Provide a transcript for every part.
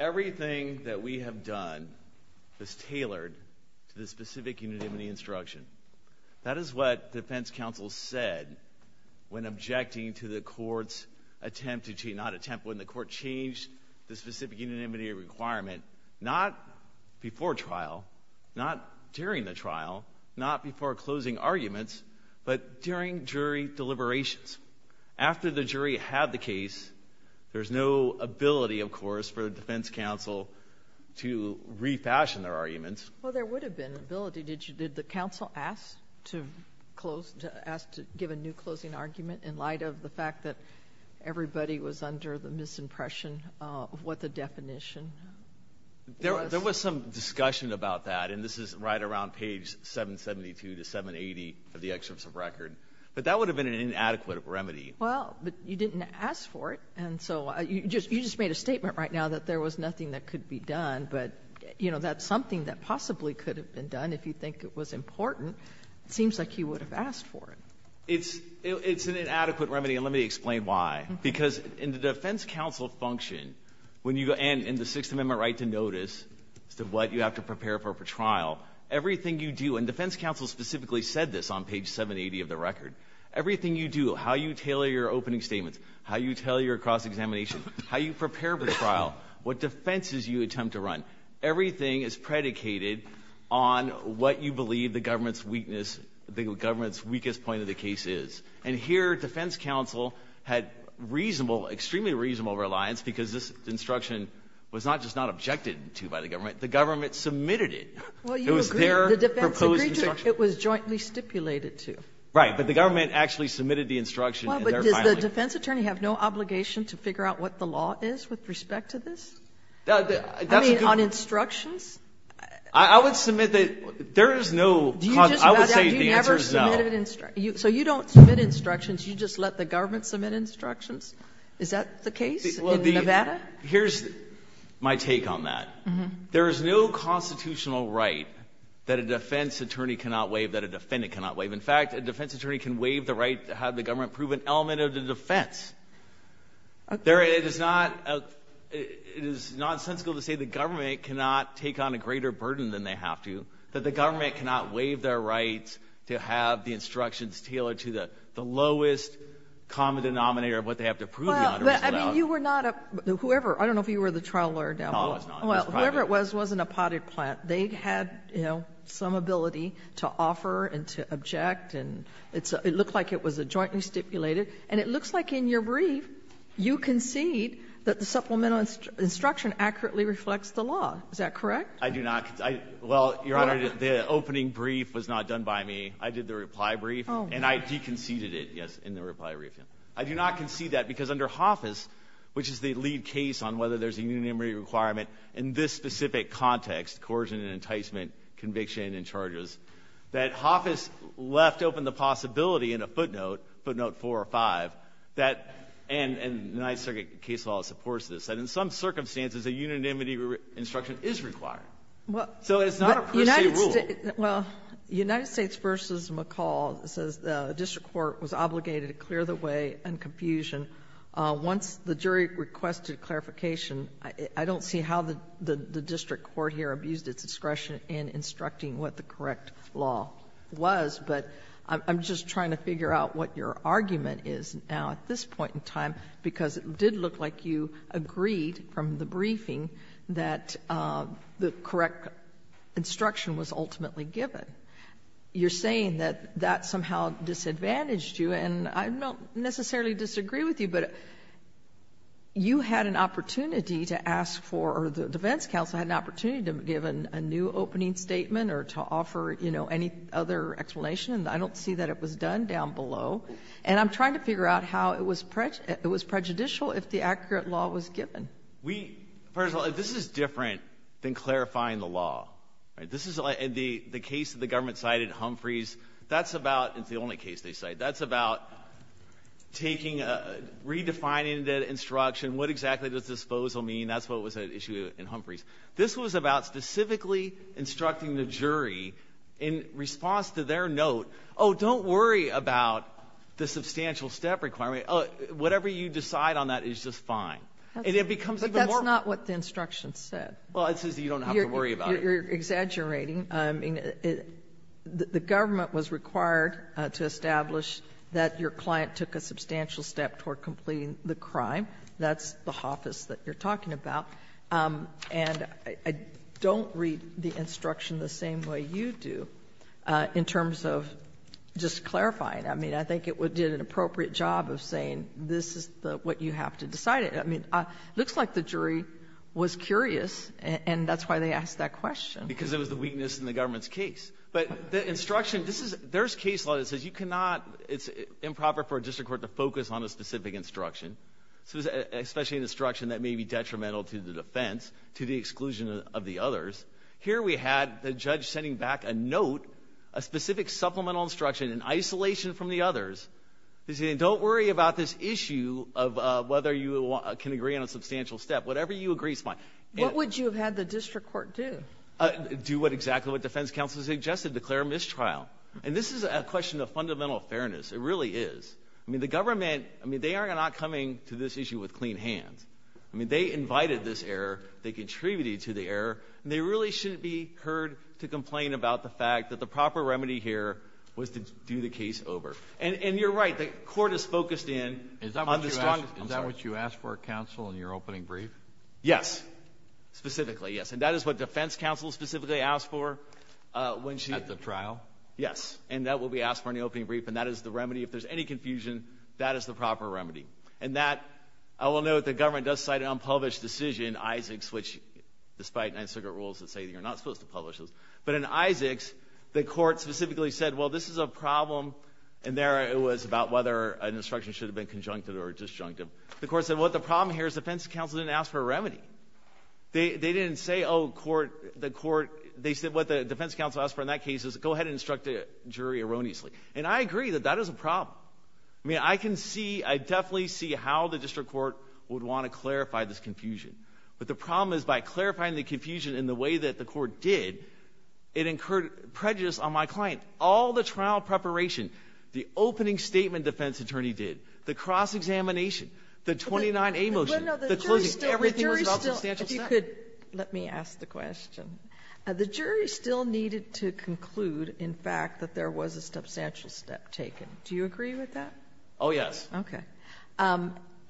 Everything that we have done is tailored to the specific unanimity instruction. That is what defense counsel said when objecting to the court's attempt to change, not attempt, when the court changed the specific unanimity requirement, not before trial, not during the trial, not before closing arguments, but during the trial itself. But during jury deliberations, after the jury had the case, there's no ability, of course, for the defense counsel to refashion their arguments. Well, there would have been ability. Did the counsel ask to give a new closing argument in light of the fact that everybody was under the misimpression of what the definition was? There was some discussion about that, and this is right around page 772 to 780 of the excerpts of record. But that would have been an inadequate remedy. Well, but you didn't ask for it, and so you just made a statement right now that there was nothing that could be done. But that's something that possibly could have been done if you think it was important. It seems like you would have asked for it. It's an inadequate remedy, and let me explain why. Because in the defense counsel function, and in the Sixth Amendment right to notice as to what you have to prepare for trial, everything you do, and defense counsel specifically said this on page 780 of the record. Everything you do, how you tailor your opening statements, how you tailor your cross-examination, how you prepare for trial, what defenses you attempt to run, everything is predicated on what you believe the government's weakness, the weakest point of the case is. And here defense counsel had reasonable, extremely reasonable reliance because this instruction was not just not objected to by the government. The government submitted it. It was their proposed instruction. The defense agreed to it. It was jointly stipulated to. Right. But the government actually submitted the instruction. Well, but does the defense attorney have no obligation to figure out what the law is with respect to this? I mean, on instructions? I would submit that there is no cause. I would say the answer is no. So you don't submit instructions. You just let the government submit instructions? Is that the case in Nevada? Here's my take on that. There is no constitutional right that a defense attorney cannot waive, that a defendant cannot waive. In fact, a defense attorney can waive the right to have the government prove an element of the defense. Okay. It is nonsensical to say the government cannot take on a greater burden than they have to, that the government cannot waive their right to have the instructions tailored to the lowest common denominator of what they have to prove. Well, I mean, you were not a — whoever — I don't know if you were the trial lawyer down below. No, I was not. Well, whoever it was, it wasn't a potted plant. They had, you know, some ability to offer and to object, and it looked like it was jointly stipulated. And it looks like in your brief, you concede that the supplemental instruction accurately reflects the law. Is that correct? I do not. Well, Your Honor, the opening brief was not done by me. I did the reply brief. Oh. And I deconceded it, yes, in the reply brief. I do not concede that because under HOFFIS, which is the lead case on whether there's a unanimity requirement in this specific context, coercion and enticement, conviction and charges, that HOFFIS left open the possibility in a footnote, footnote 4 or 5, that — and the United States case law supports this — that in some circumstances, a unanimity instruction is required. So it's not a per se rule. Well, United States v. McCall says the district court was obligated to clear the way and confusion. Once the jury requested clarification, I don't see how the district court here abused its discretion in instructing what the correct law was, but I'm just trying to figure out what your argument is now at this point in time, because it did look like you agreed from the briefing that the correct instruction was ultimately given. You're saying that that somehow disadvantaged you, and I don't necessarily disagree with you, but you had an opportunity to ask for — or the defense counsel had an opportunity to have given a new opening statement or to offer, you know, any other explanation, and I don't see that it was done down below. And I'm trying to figure out how it was prejudicial if the accurate law was given. We — first of all, this is different than clarifying the law. This is — the case that the government cited, Humphrey's, that's about — it's the only case they cite — that's about taking a — redefining the instruction, what exactly does disposal mean. That's what was at issue in Humphrey's. This was about specifically instructing the jury in response to their note, oh, don't worry about the substantial step requirement. Oh, whatever you decide on that is just fine. And it becomes even more — But that's not what the instruction said. Well, it says that you don't have to worry about it. You're exaggerating. I mean, the government was required to establish that your client took a substantial step toward completing the crime. That's the hoffice that you're talking about. And I don't read the instruction the same way you do in terms of just clarifying. I mean, I think it did an appropriate job of saying this is what you have to decide. I mean, it looks like the jury was curious, and that's why they asked that question. Because it was the weakness in the government's case. But the instruction — there's case law that says you cannot — it's improper for a district court to focus on a specific instruction, especially an instruction that may be detrimental to the defense, to the exclusion of the others. Here we had the judge sending back a note, a specific supplemental instruction, in isolation from the others, saying don't worry about this issue of whether you can agree on a substantial step. Whatever you agree is fine. What would you have had the district court do? Do exactly what defense counsel suggested, declare a mistrial. And this is a question of fundamental fairness. It really is. I mean, the government — I mean, they are not coming to this issue with clean hands. I mean, they invited this error. They contributed to the error. And they really shouldn't be heard to complain about the fact that the proper remedy here was to do the case over. And you're right. The court is focused in on the strongest — Is that what you asked for, counsel, in your opening brief? Yes. Specifically, yes. And that is what defense counsel specifically asked for when she — At the trial? Yes. And that will be asked for in the opening brief. And that is the remedy. If there's any confusion, that is the proper remedy. And that — I will note the government does cite an unpublished decision, Isaacs, which, despite Ninth Circuit rules that say you're not supposed to publish those. But in Isaacs, the court specifically said, well, this is a problem. And there it was about whether an instruction should have been conjunctive or disjunctive. The court said, well, the problem here is defense counsel didn't ask for a remedy. They didn't say, oh, the court — they said what the defense counsel asked for in that case is go ahead and instruct the jury erroneously. And I agree that that is a problem. I mean, I can see — I definitely see how the district court would want to clarify this confusion. But the problem is by clarifying the confusion in the way that the court did, it incurred prejudice on my client. All the trial preparation, the opening statement defense attorney did, the cross-examination, the 29A motion, the closing, everything was about substantial steps. The jury still — if you could let me ask the question. The jury still needed to conclude, in fact, that there was a substantial step taken. Do you agree with that? Oh, yes. Okay.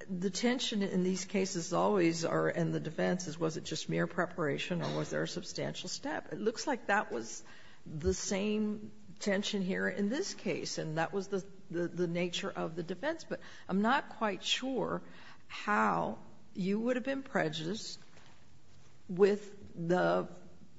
The tension in these cases always are in the defense is was it just mere preparation or was there a substantial step? It looks like that was the same tension here in this case, and that was the nature of the defense. But I'm not quite sure how you would have been prejudiced with the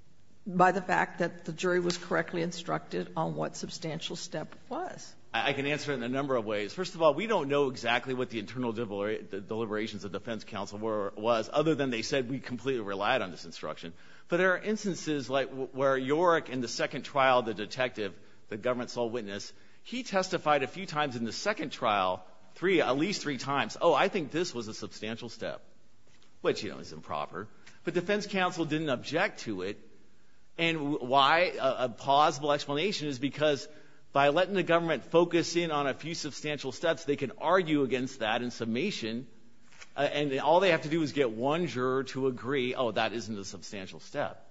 — by the fact that the jury was correctly instructed on what substantial step was. I can answer it in a number of ways. First of all, we don't know exactly what the internal deliberations of the defense counsel was, other than they said we completely relied on this instruction. But there are instances like where Yorick in the second trial, the detective, the government sole witness, he testified a few times in the second trial, at least three times, oh, I think this was a substantial step, which, you know, is improper. But defense counsel didn't object to it. And why? A plausible explanation is because by letting the government focus in on a few substantial steps, they can argue against that in summation, and all they have to do is get one juror to agree, oh, that isn't a substantial step.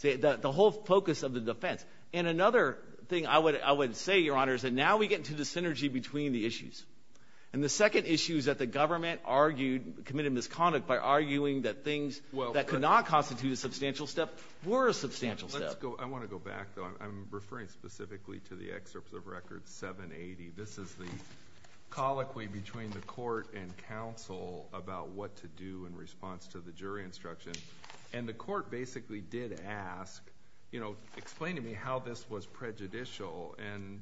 The whole focus of the defense. And another thing I would say, Your Honor, is that now we get into the synergy between the issues. And the second issue is that the government argued, committed misconduct, by arguing that things that could not constitute a substantial step were a substantial step. I want to go back, though. I'm referring specifically to the excerpt of Record 780. This is the colloquy between the court and counsel about what to do in response to the jury instruction. And the court basically did ask, you know, explain to me how this was prejudicial. And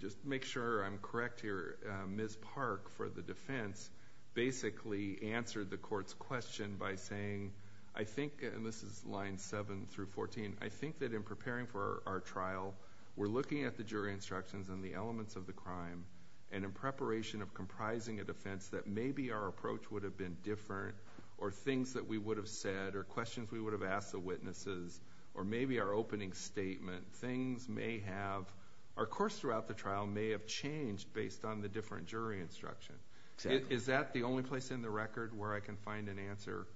just to make sure I'm correct here, Ms. Park, for the defense, basically answered the court's question by saying, I think, and this is lines 7 through 14, I think that in preparing for our trial, we're looking at the jury instructions and the elements of the crime, and in preparation of comprising a defense that maybe our approach would have been different or things that we would have said or questions we would have asked the witnesses or maybe our opening statement, things may have, our course throughout the trial may have changed based on the different jury instruction. Is that the only place in the record where I can find an answer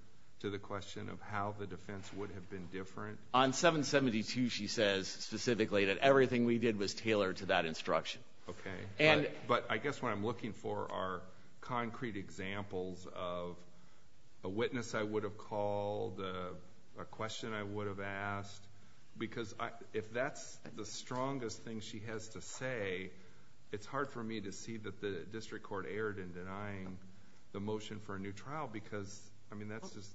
to the question of how the defense would have been different? On 772, she says specifically that everything we did was tailored to that instruction. Okay. But I guess what I'm looking for are concrete examples of a witness I would have called, a question I would have asked, because if that's the strongest thing she has to say, it's hard for me to see that the district court erred in denying the motion for a new trial, because, I mean, that's just,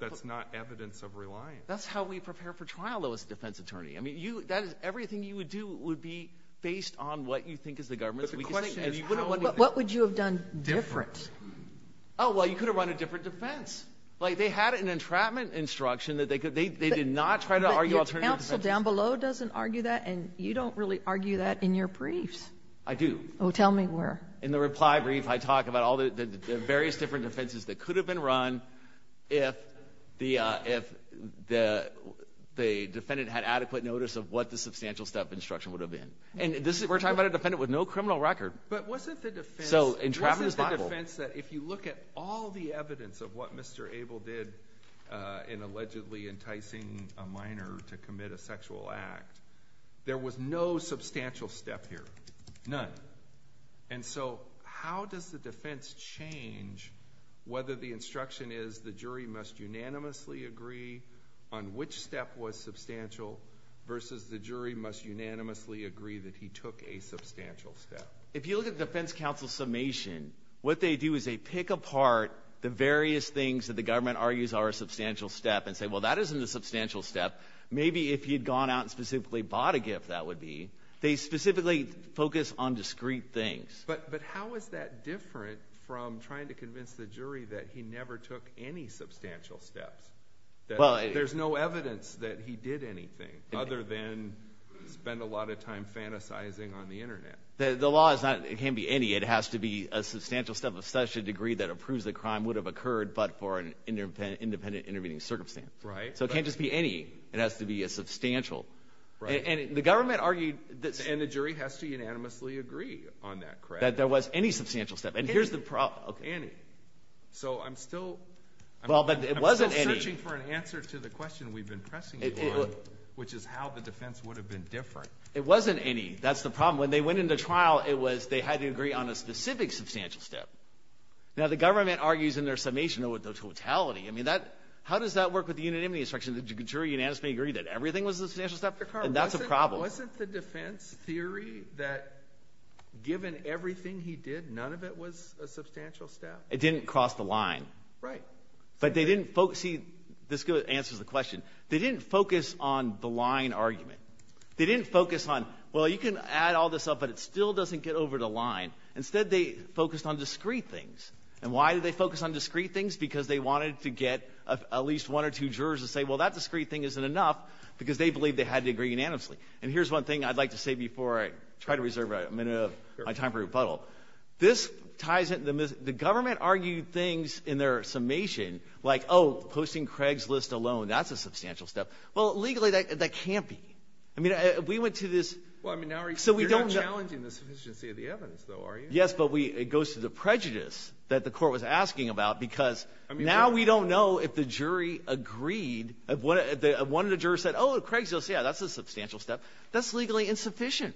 that's not evidence of reliance. That's how we prepare for trial, though, as a defense attorney. I mean, everything you would do would be based on what you think is the government's decision. What would you have done different? Oh, well, you could have run a different defense. Like, they had an entrapment instruction that they did not try to argue alternative defense. But your counsel down below doesn't argue that, and you don't really argue that in your briefs. I do. Oh, tell me where. In the reply brief, I talk about all the various different defenses that could have been run if the defendant had adequate notice of what the substantial step instruction would have been. And we're talking about a defendant with no criminal record. But wasn't the defense that if you look at all the evidence of what Mr. Abel did in allegedly enticing a minor to commit a sexual act, there was no substantial step here, none. And so how does the defense change whether the instruction is the jury must unanimously agree on which step was substantial versus the jury must unanimously agree that he took a substantial step? If you look at the defense counsel summation, what they do is they pick apart the various things that the government argues are a substantial step and say, well, that isn't a substantial step. Maybe if you'd gone out and specifically bought a gift, that would be. They specifically focus on discrete things. But how is that different from trying to convince the jury that he never took any substantial steps, that there's no evidence that he did anything other than spend a lot of time fantasizing on the Internet? The law is not it can't be any. It has to be a substantial step of such a degree that approves the crime would have occurred but for an independent intervening circumstance. So it can't just be any. It has to be a substantial. Right. And the government argued that. And the jury has to unanimously agree on that, correct? That there was any substantial step. Any. And here's the problem. Any. So I'm still. Well, but it wasn't any. I'm still searching for an answer to the question we've been pressing you on, which is how the defense would have been different. It wasn't any. That's the problem. When they went into trial, it was they had to agree on a specific substantial step. Now, the government argues in their summation with the totality. I mean, how does that work with the unanimity instruction? The jury unanimously agreed that everything was a substantial step. And that's a problem. Wasn't the defense theory that given everything he did, none of it was a substantial step? It didn't cross the line. Right. But they didn't. See, this answers the question. They didn't focus on the line argument. They didn't focus on, well, you can add all this up, but it still doesn't get over the line. Instead, they focused on discrete things. And why did they focus on discrete things? Because they wanted to get at least one or two jurors to say, well, that discrete thing isn't enough, because they believe they had to agree unanimously. And here's one thing I'd like to say before I try to reserve a minute of my time for a rebuttal. This ties into the government argued things in their summation like, oh, posting Craig's list alone, that's a substantial step. Well, legally, that can't be. I mean, we went to this. Well, I mean, you're not challenging the sufficiency of the evidence, though, are you? Yes, but it goes to the prejudice that the court was asking about, because now we don't know if the jury agreed. One of the jurors said, oh, Craig's list, yeah, that's a substantial step. That's legally insufficient.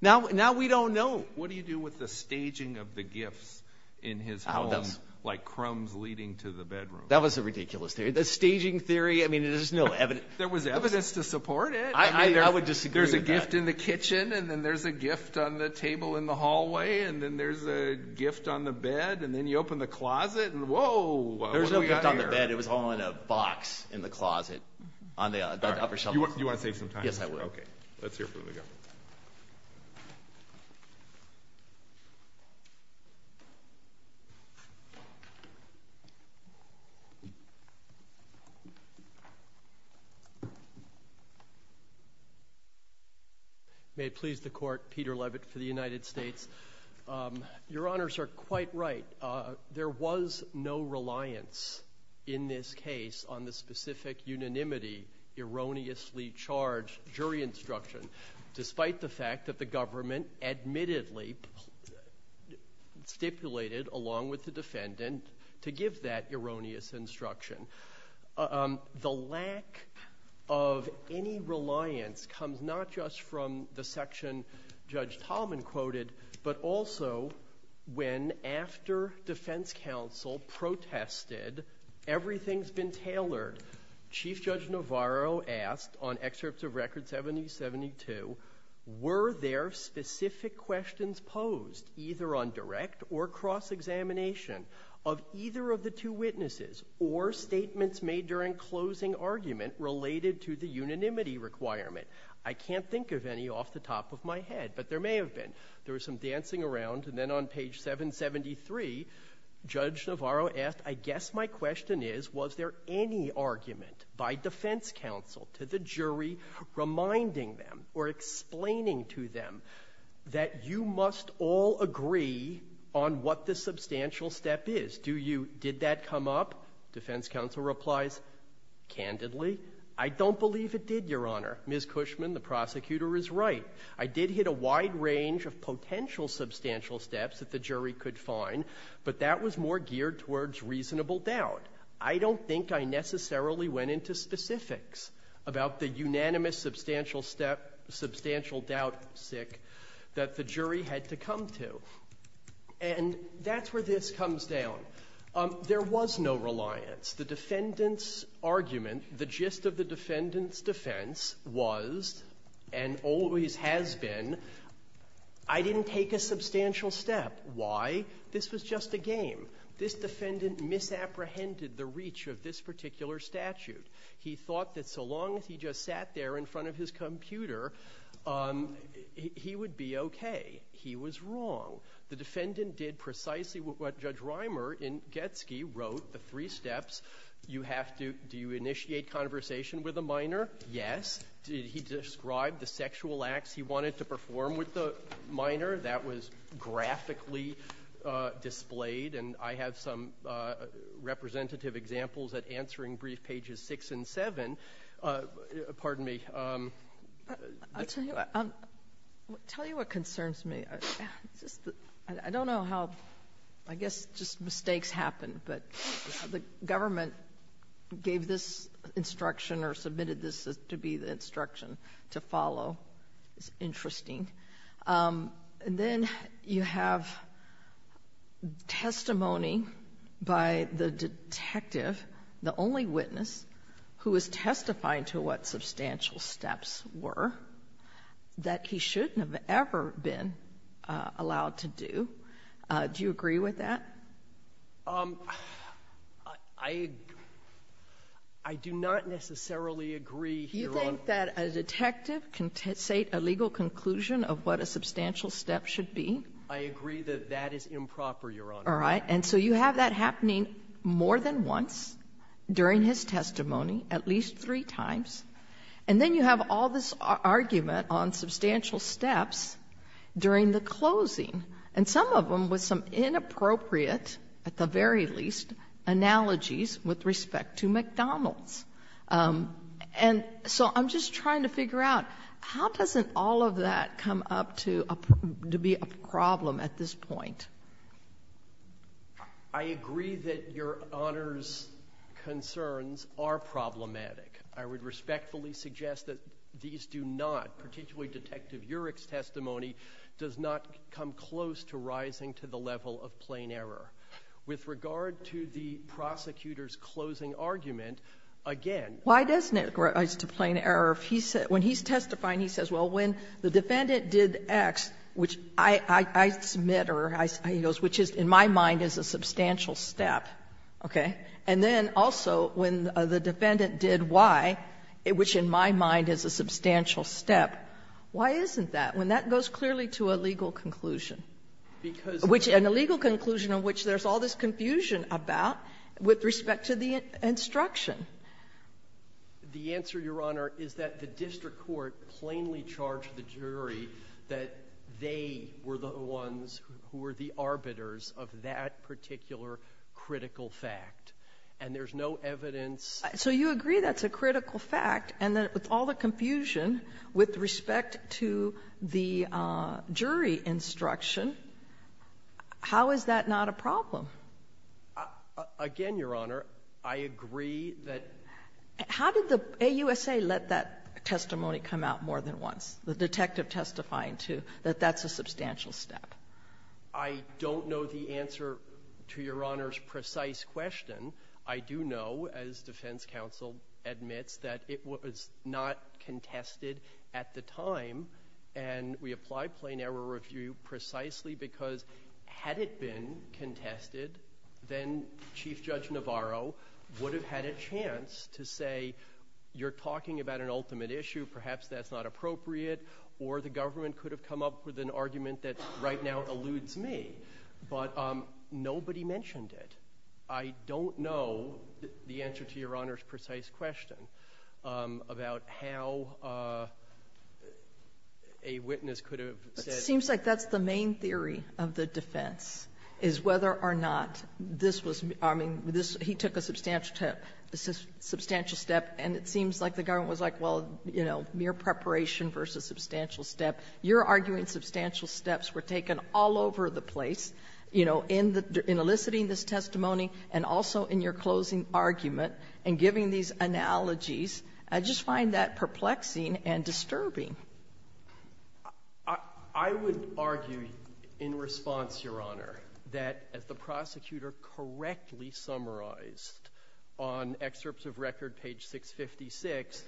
Now we don't know. What do you do with the staging of the gifts in his home, like crumbs leading to the bedroom? That was a ridiculous theory. The staging theory, I mean, there's no evidence. There was evidence to support it. I would disagree with that. There's a gift in the kitchen, and then there's a gift on the table in the hallway, and then there's a gift on the bed, and then you open the closet, and whoa. There was no gift on the bed. It was all in a box in the closet on the upper shelf. You want to save some time? Yes, I would. Okay. Let's hear from the government. May it please the Court, Peter Levitt for the United States. Your Honors are quite right. There was no reliance in this case on the specific unanimity erroneously charged jury instruction, despite the fact that the government admittedly stipulated, along with the defendant, to give that erroneous instruction. The lack of any reliance comes not just from the section Judge Tallman quoted, but also when, after defense counsel protested, everything's been tailored. Chief Judge Navarro asked, on excerpts of Record 7072, were there specific questions posed, either on direct or cross-examination, of either of the two witnesses or statements made during closing argument related to the unanimity requirement? I can't think of any off the top of my head, but there may have been. There was some dancing around, and then on page 773, Judge Navarro asked, I guess my question is, was there any argument by defense counsel to the jury reminding them or explaining to them that you must all agree on what the substantial step is? Did that come up? Defense counsel replies, candidly, I don't believe it did, Your Honor. Ms. Cushman, the prosecutor, is right. I did hit a wide range of potential substantial steps that the jury could find, but that was more geared towards reasonable doubt. I don't think I necessarily went into specifics about the unanimous substantial step, substantial doubt, sick, that the jury had to come to. And that's where this comes down. There was no reliance. The defendant's argument, the gist of the defendant's defense was, and always has been, I didn't take a substantial step. Why? This was just a game. This defendant misapprehended the reach of this particular statute. He thought that so long as he just sat there in front of his computer, he would be okay. He was wrong. The defendant did precisely what Judge Reimer in Getsky wrote, the three steps. Do you initiate conversation with a minor? Did he describe the sexual acts he wanted to perform with the minor? That was graphically displayed, and I have some representative examples at answering brief pages six and seven. Pardon me. I'll tell you what concerns me. I don't know how, I guess just mistakes happen, but the government gave this instruction or submitted this to be the instruction to follow. It's interesting. Then you have testimony by the detective, the only witness, who is testifying to what substantial steps were that he shouldn't have ever been allowed to do. Do you agree with that? I do not necessarily agree. You think that a detective can state a legal conclusion of what a substantial step should be? I agree that that is improper, Your Honor. All right. So you have that happening more than once during his testimony, at least three times, and then you have all this argument on substantial steps during the closing, and some of them with some inappropriate, at the very least, analogies with respect to McDonald's. So I'm just trying to figure out, how doesn't all of that come up to be a problem at this point? I agree that Your Honor's concerns are problematic. I would respectfully suggest that these do not, particularly Detective Urick's testimony does not come close to rising to the level of plain error. With regard to the prosecutor's closing argument, again. Why doesn't it rise to plain error? When he's testifying, he says, well, when the defendant did X, which I submit, or he goes, which in my mind is a substantial step, okay? And then also, when the defendant did Y, which in my mind is a substantial step, why isn't that? When that goes clearly to a legal conclusion. And a legal conclusion in which there's all this confusion about, with respect to the instruction. The answer, Your Honor, is that the district court plainly charged the jury that they were the ones who were the arbiters of that particular critical fact. And there's no evidence. So you agree that's a critical fact, and that with all the confusion with respect to the jury instruction, how is that not a problem? Again, Your Honor, I agree that. How did the AUSA let that testimony come out more than once? The detective testifying to, that that's a substantial step. I don't know the answer to Your Honor's precise question. I do know, as defense counsel admits, that it was not contested at the time, and we applied plain error review precisely because had it been contested, then Chief Judge Navarro would have had a chance to say, you're talking about an ultimate issue, perhaps that's not appropriate, or the government could have come up with an argument that right now eludes me. But nobody mentioned it. I don't know the answer to Your Honor's precise question about how a witness could have said. But it seems like that's the main theory of the defense, is whether or not this was, I mean, he took a substantial step, and it seems like the government was like, well, mere preparation versus substantial step. You're arguing substantial steps were taken all over the place in eliciting this testimony and also in your closing argument and giving these analogies. I just find that perplexing and disturbing. I would argue in response, Your Honor, that as the prosecutor correctly summarized on excerpts of record, page 656,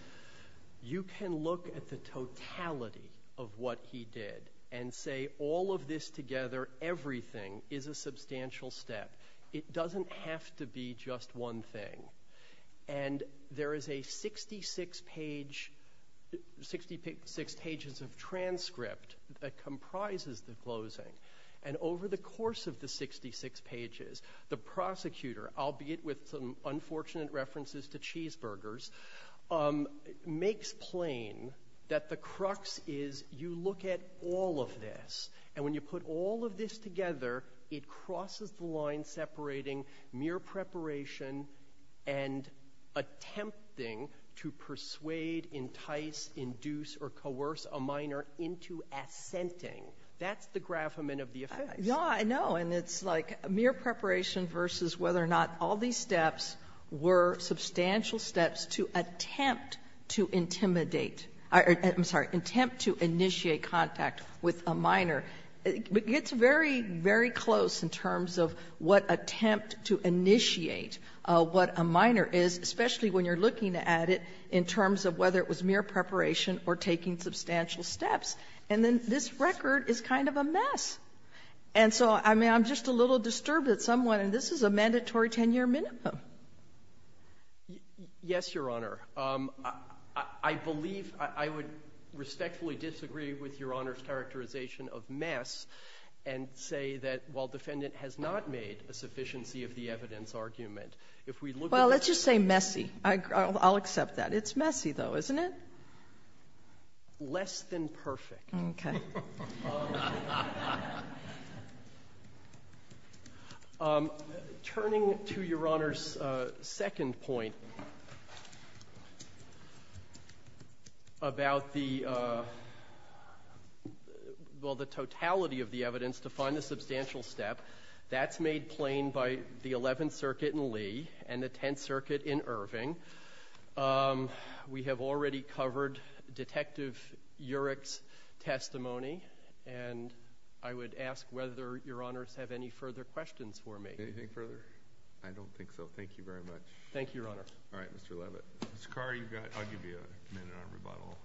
you can look at the totality of what he did and say all of this together, everything, is a substantial step. It doesn't have to be just one thing. And there is a 66 pages of transcript that comprises the closing. And over the course of the 66 pages, the prosecutor, albeit with some unfortunate references to cheeseburgers, makes plain that the crux is you look at all of this, and when you put all of this together, it crosses the line separating mere preparation and attempting to persuade, entice, induce, or coerce a minor into assenting. That's the gravamen of the offense. Yeah, I know. And it's like mere preparation versus whether or not all these steps were It gets very, very close in terms of what attempt to initiate what a minor is, especially when you're looking at it in terms of whether it was mere preparation or taking substantial steps. And then this record is kind of a mess. And so, I mean, I'm just a little disturbed that someone, and this is a mandatory 10-year minimum. Yes, Your Honor. I believe, I would respectfully disagree with Your Honor's characterization of mess and say that while defendant has not made a sufficiency of the evidence argument, if we look at it... Well, let's just say messy. I'll accept that. It's messy, though, isn't it? Less than perfect. Okay. Turning to Your Honor's second point about the, well, the totality of the evidence to find the substantial step, that's made plain by the 11th Circuit in Lee and the 10th Circuit in Irving. We have already covered Detective Urick's testimony, and I would ask whether Your Honors have any further questions for me. Anything further? I don't think so. Thank you very much. Thank you, Your Honor. All right, Mr. Levitt. Mr. Carr, you've got, I'll give you a minute on rebuttal.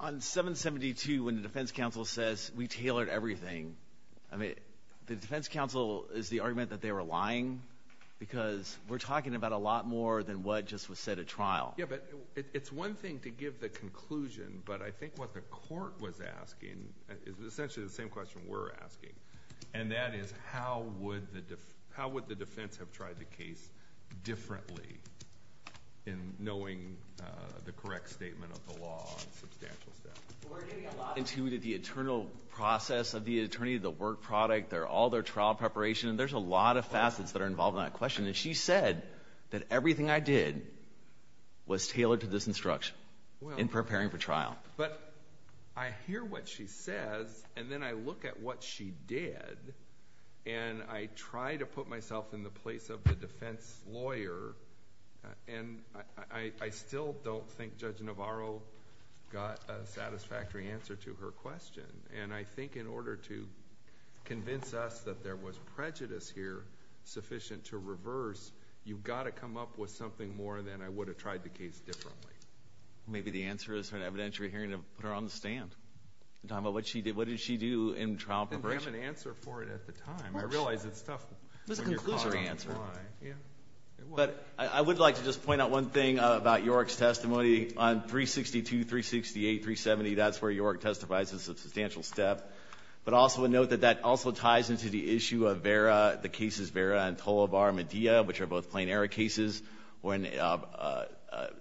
On 772, when the defense counsel says, we tailored everything, I mean, the defense counsel is the argument that they were lying because we're talking about a lot more than what just was said at trial. Yeah, but it's one thing to give the conclusion, but I think what the court was asking is essentially the same question we're asking, and that is, how would the defense have tried the case differently in knowing the correct statement of the law on substantial steps? Well, we're getting a lot into the internal process of the attorney, the work product, all their trial preparation, and there's a lot of facets that are involved in that question. And she said that everything I did was tailored to this instruction in preparing for trial. But I hear what she says, and then I look at what she did, and I try to put myself in the place of the defense lawyer, and I still don't think Judge Navarro got a satisfactory answer to her question. And I think in order to convince us that there was prejudice here sufficient to reverse, you've got to come up with something more than I would have tried the case differently. Maybe the answer is for an evidentiary hearing to put her on the stand, talking about what did she do in trial preparation. Didn't have an answer for it at the time. I realize it's tough when you're caught on the fly. But I would like to just point out one thing about York's testimony. On 362, 368, 370, that's where York testifies as a substantial step. But also note that that also ties into the issue of Vera, the cases Vera and Tolobar Medea, which are both plain error cases, when a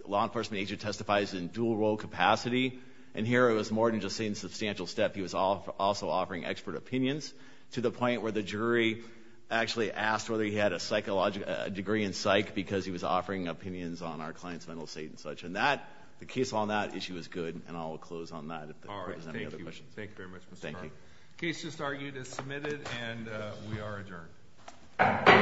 law enforcement agent testifies in dual role capacity. And here it was more than just saying substantial step. He was also offering expert opinions to the point where the jury actually asked whether he had a degree in psych because he was offering opinions on our client's mental state and such. And the case on that issue is good, and I'll close on that. If there's any other questions. All right. Thank you. Thank you very much, Mr. Farber. Thank you. The case just argued is submitted, and we are adjourned. Thank you very much. Thank you. Thank you.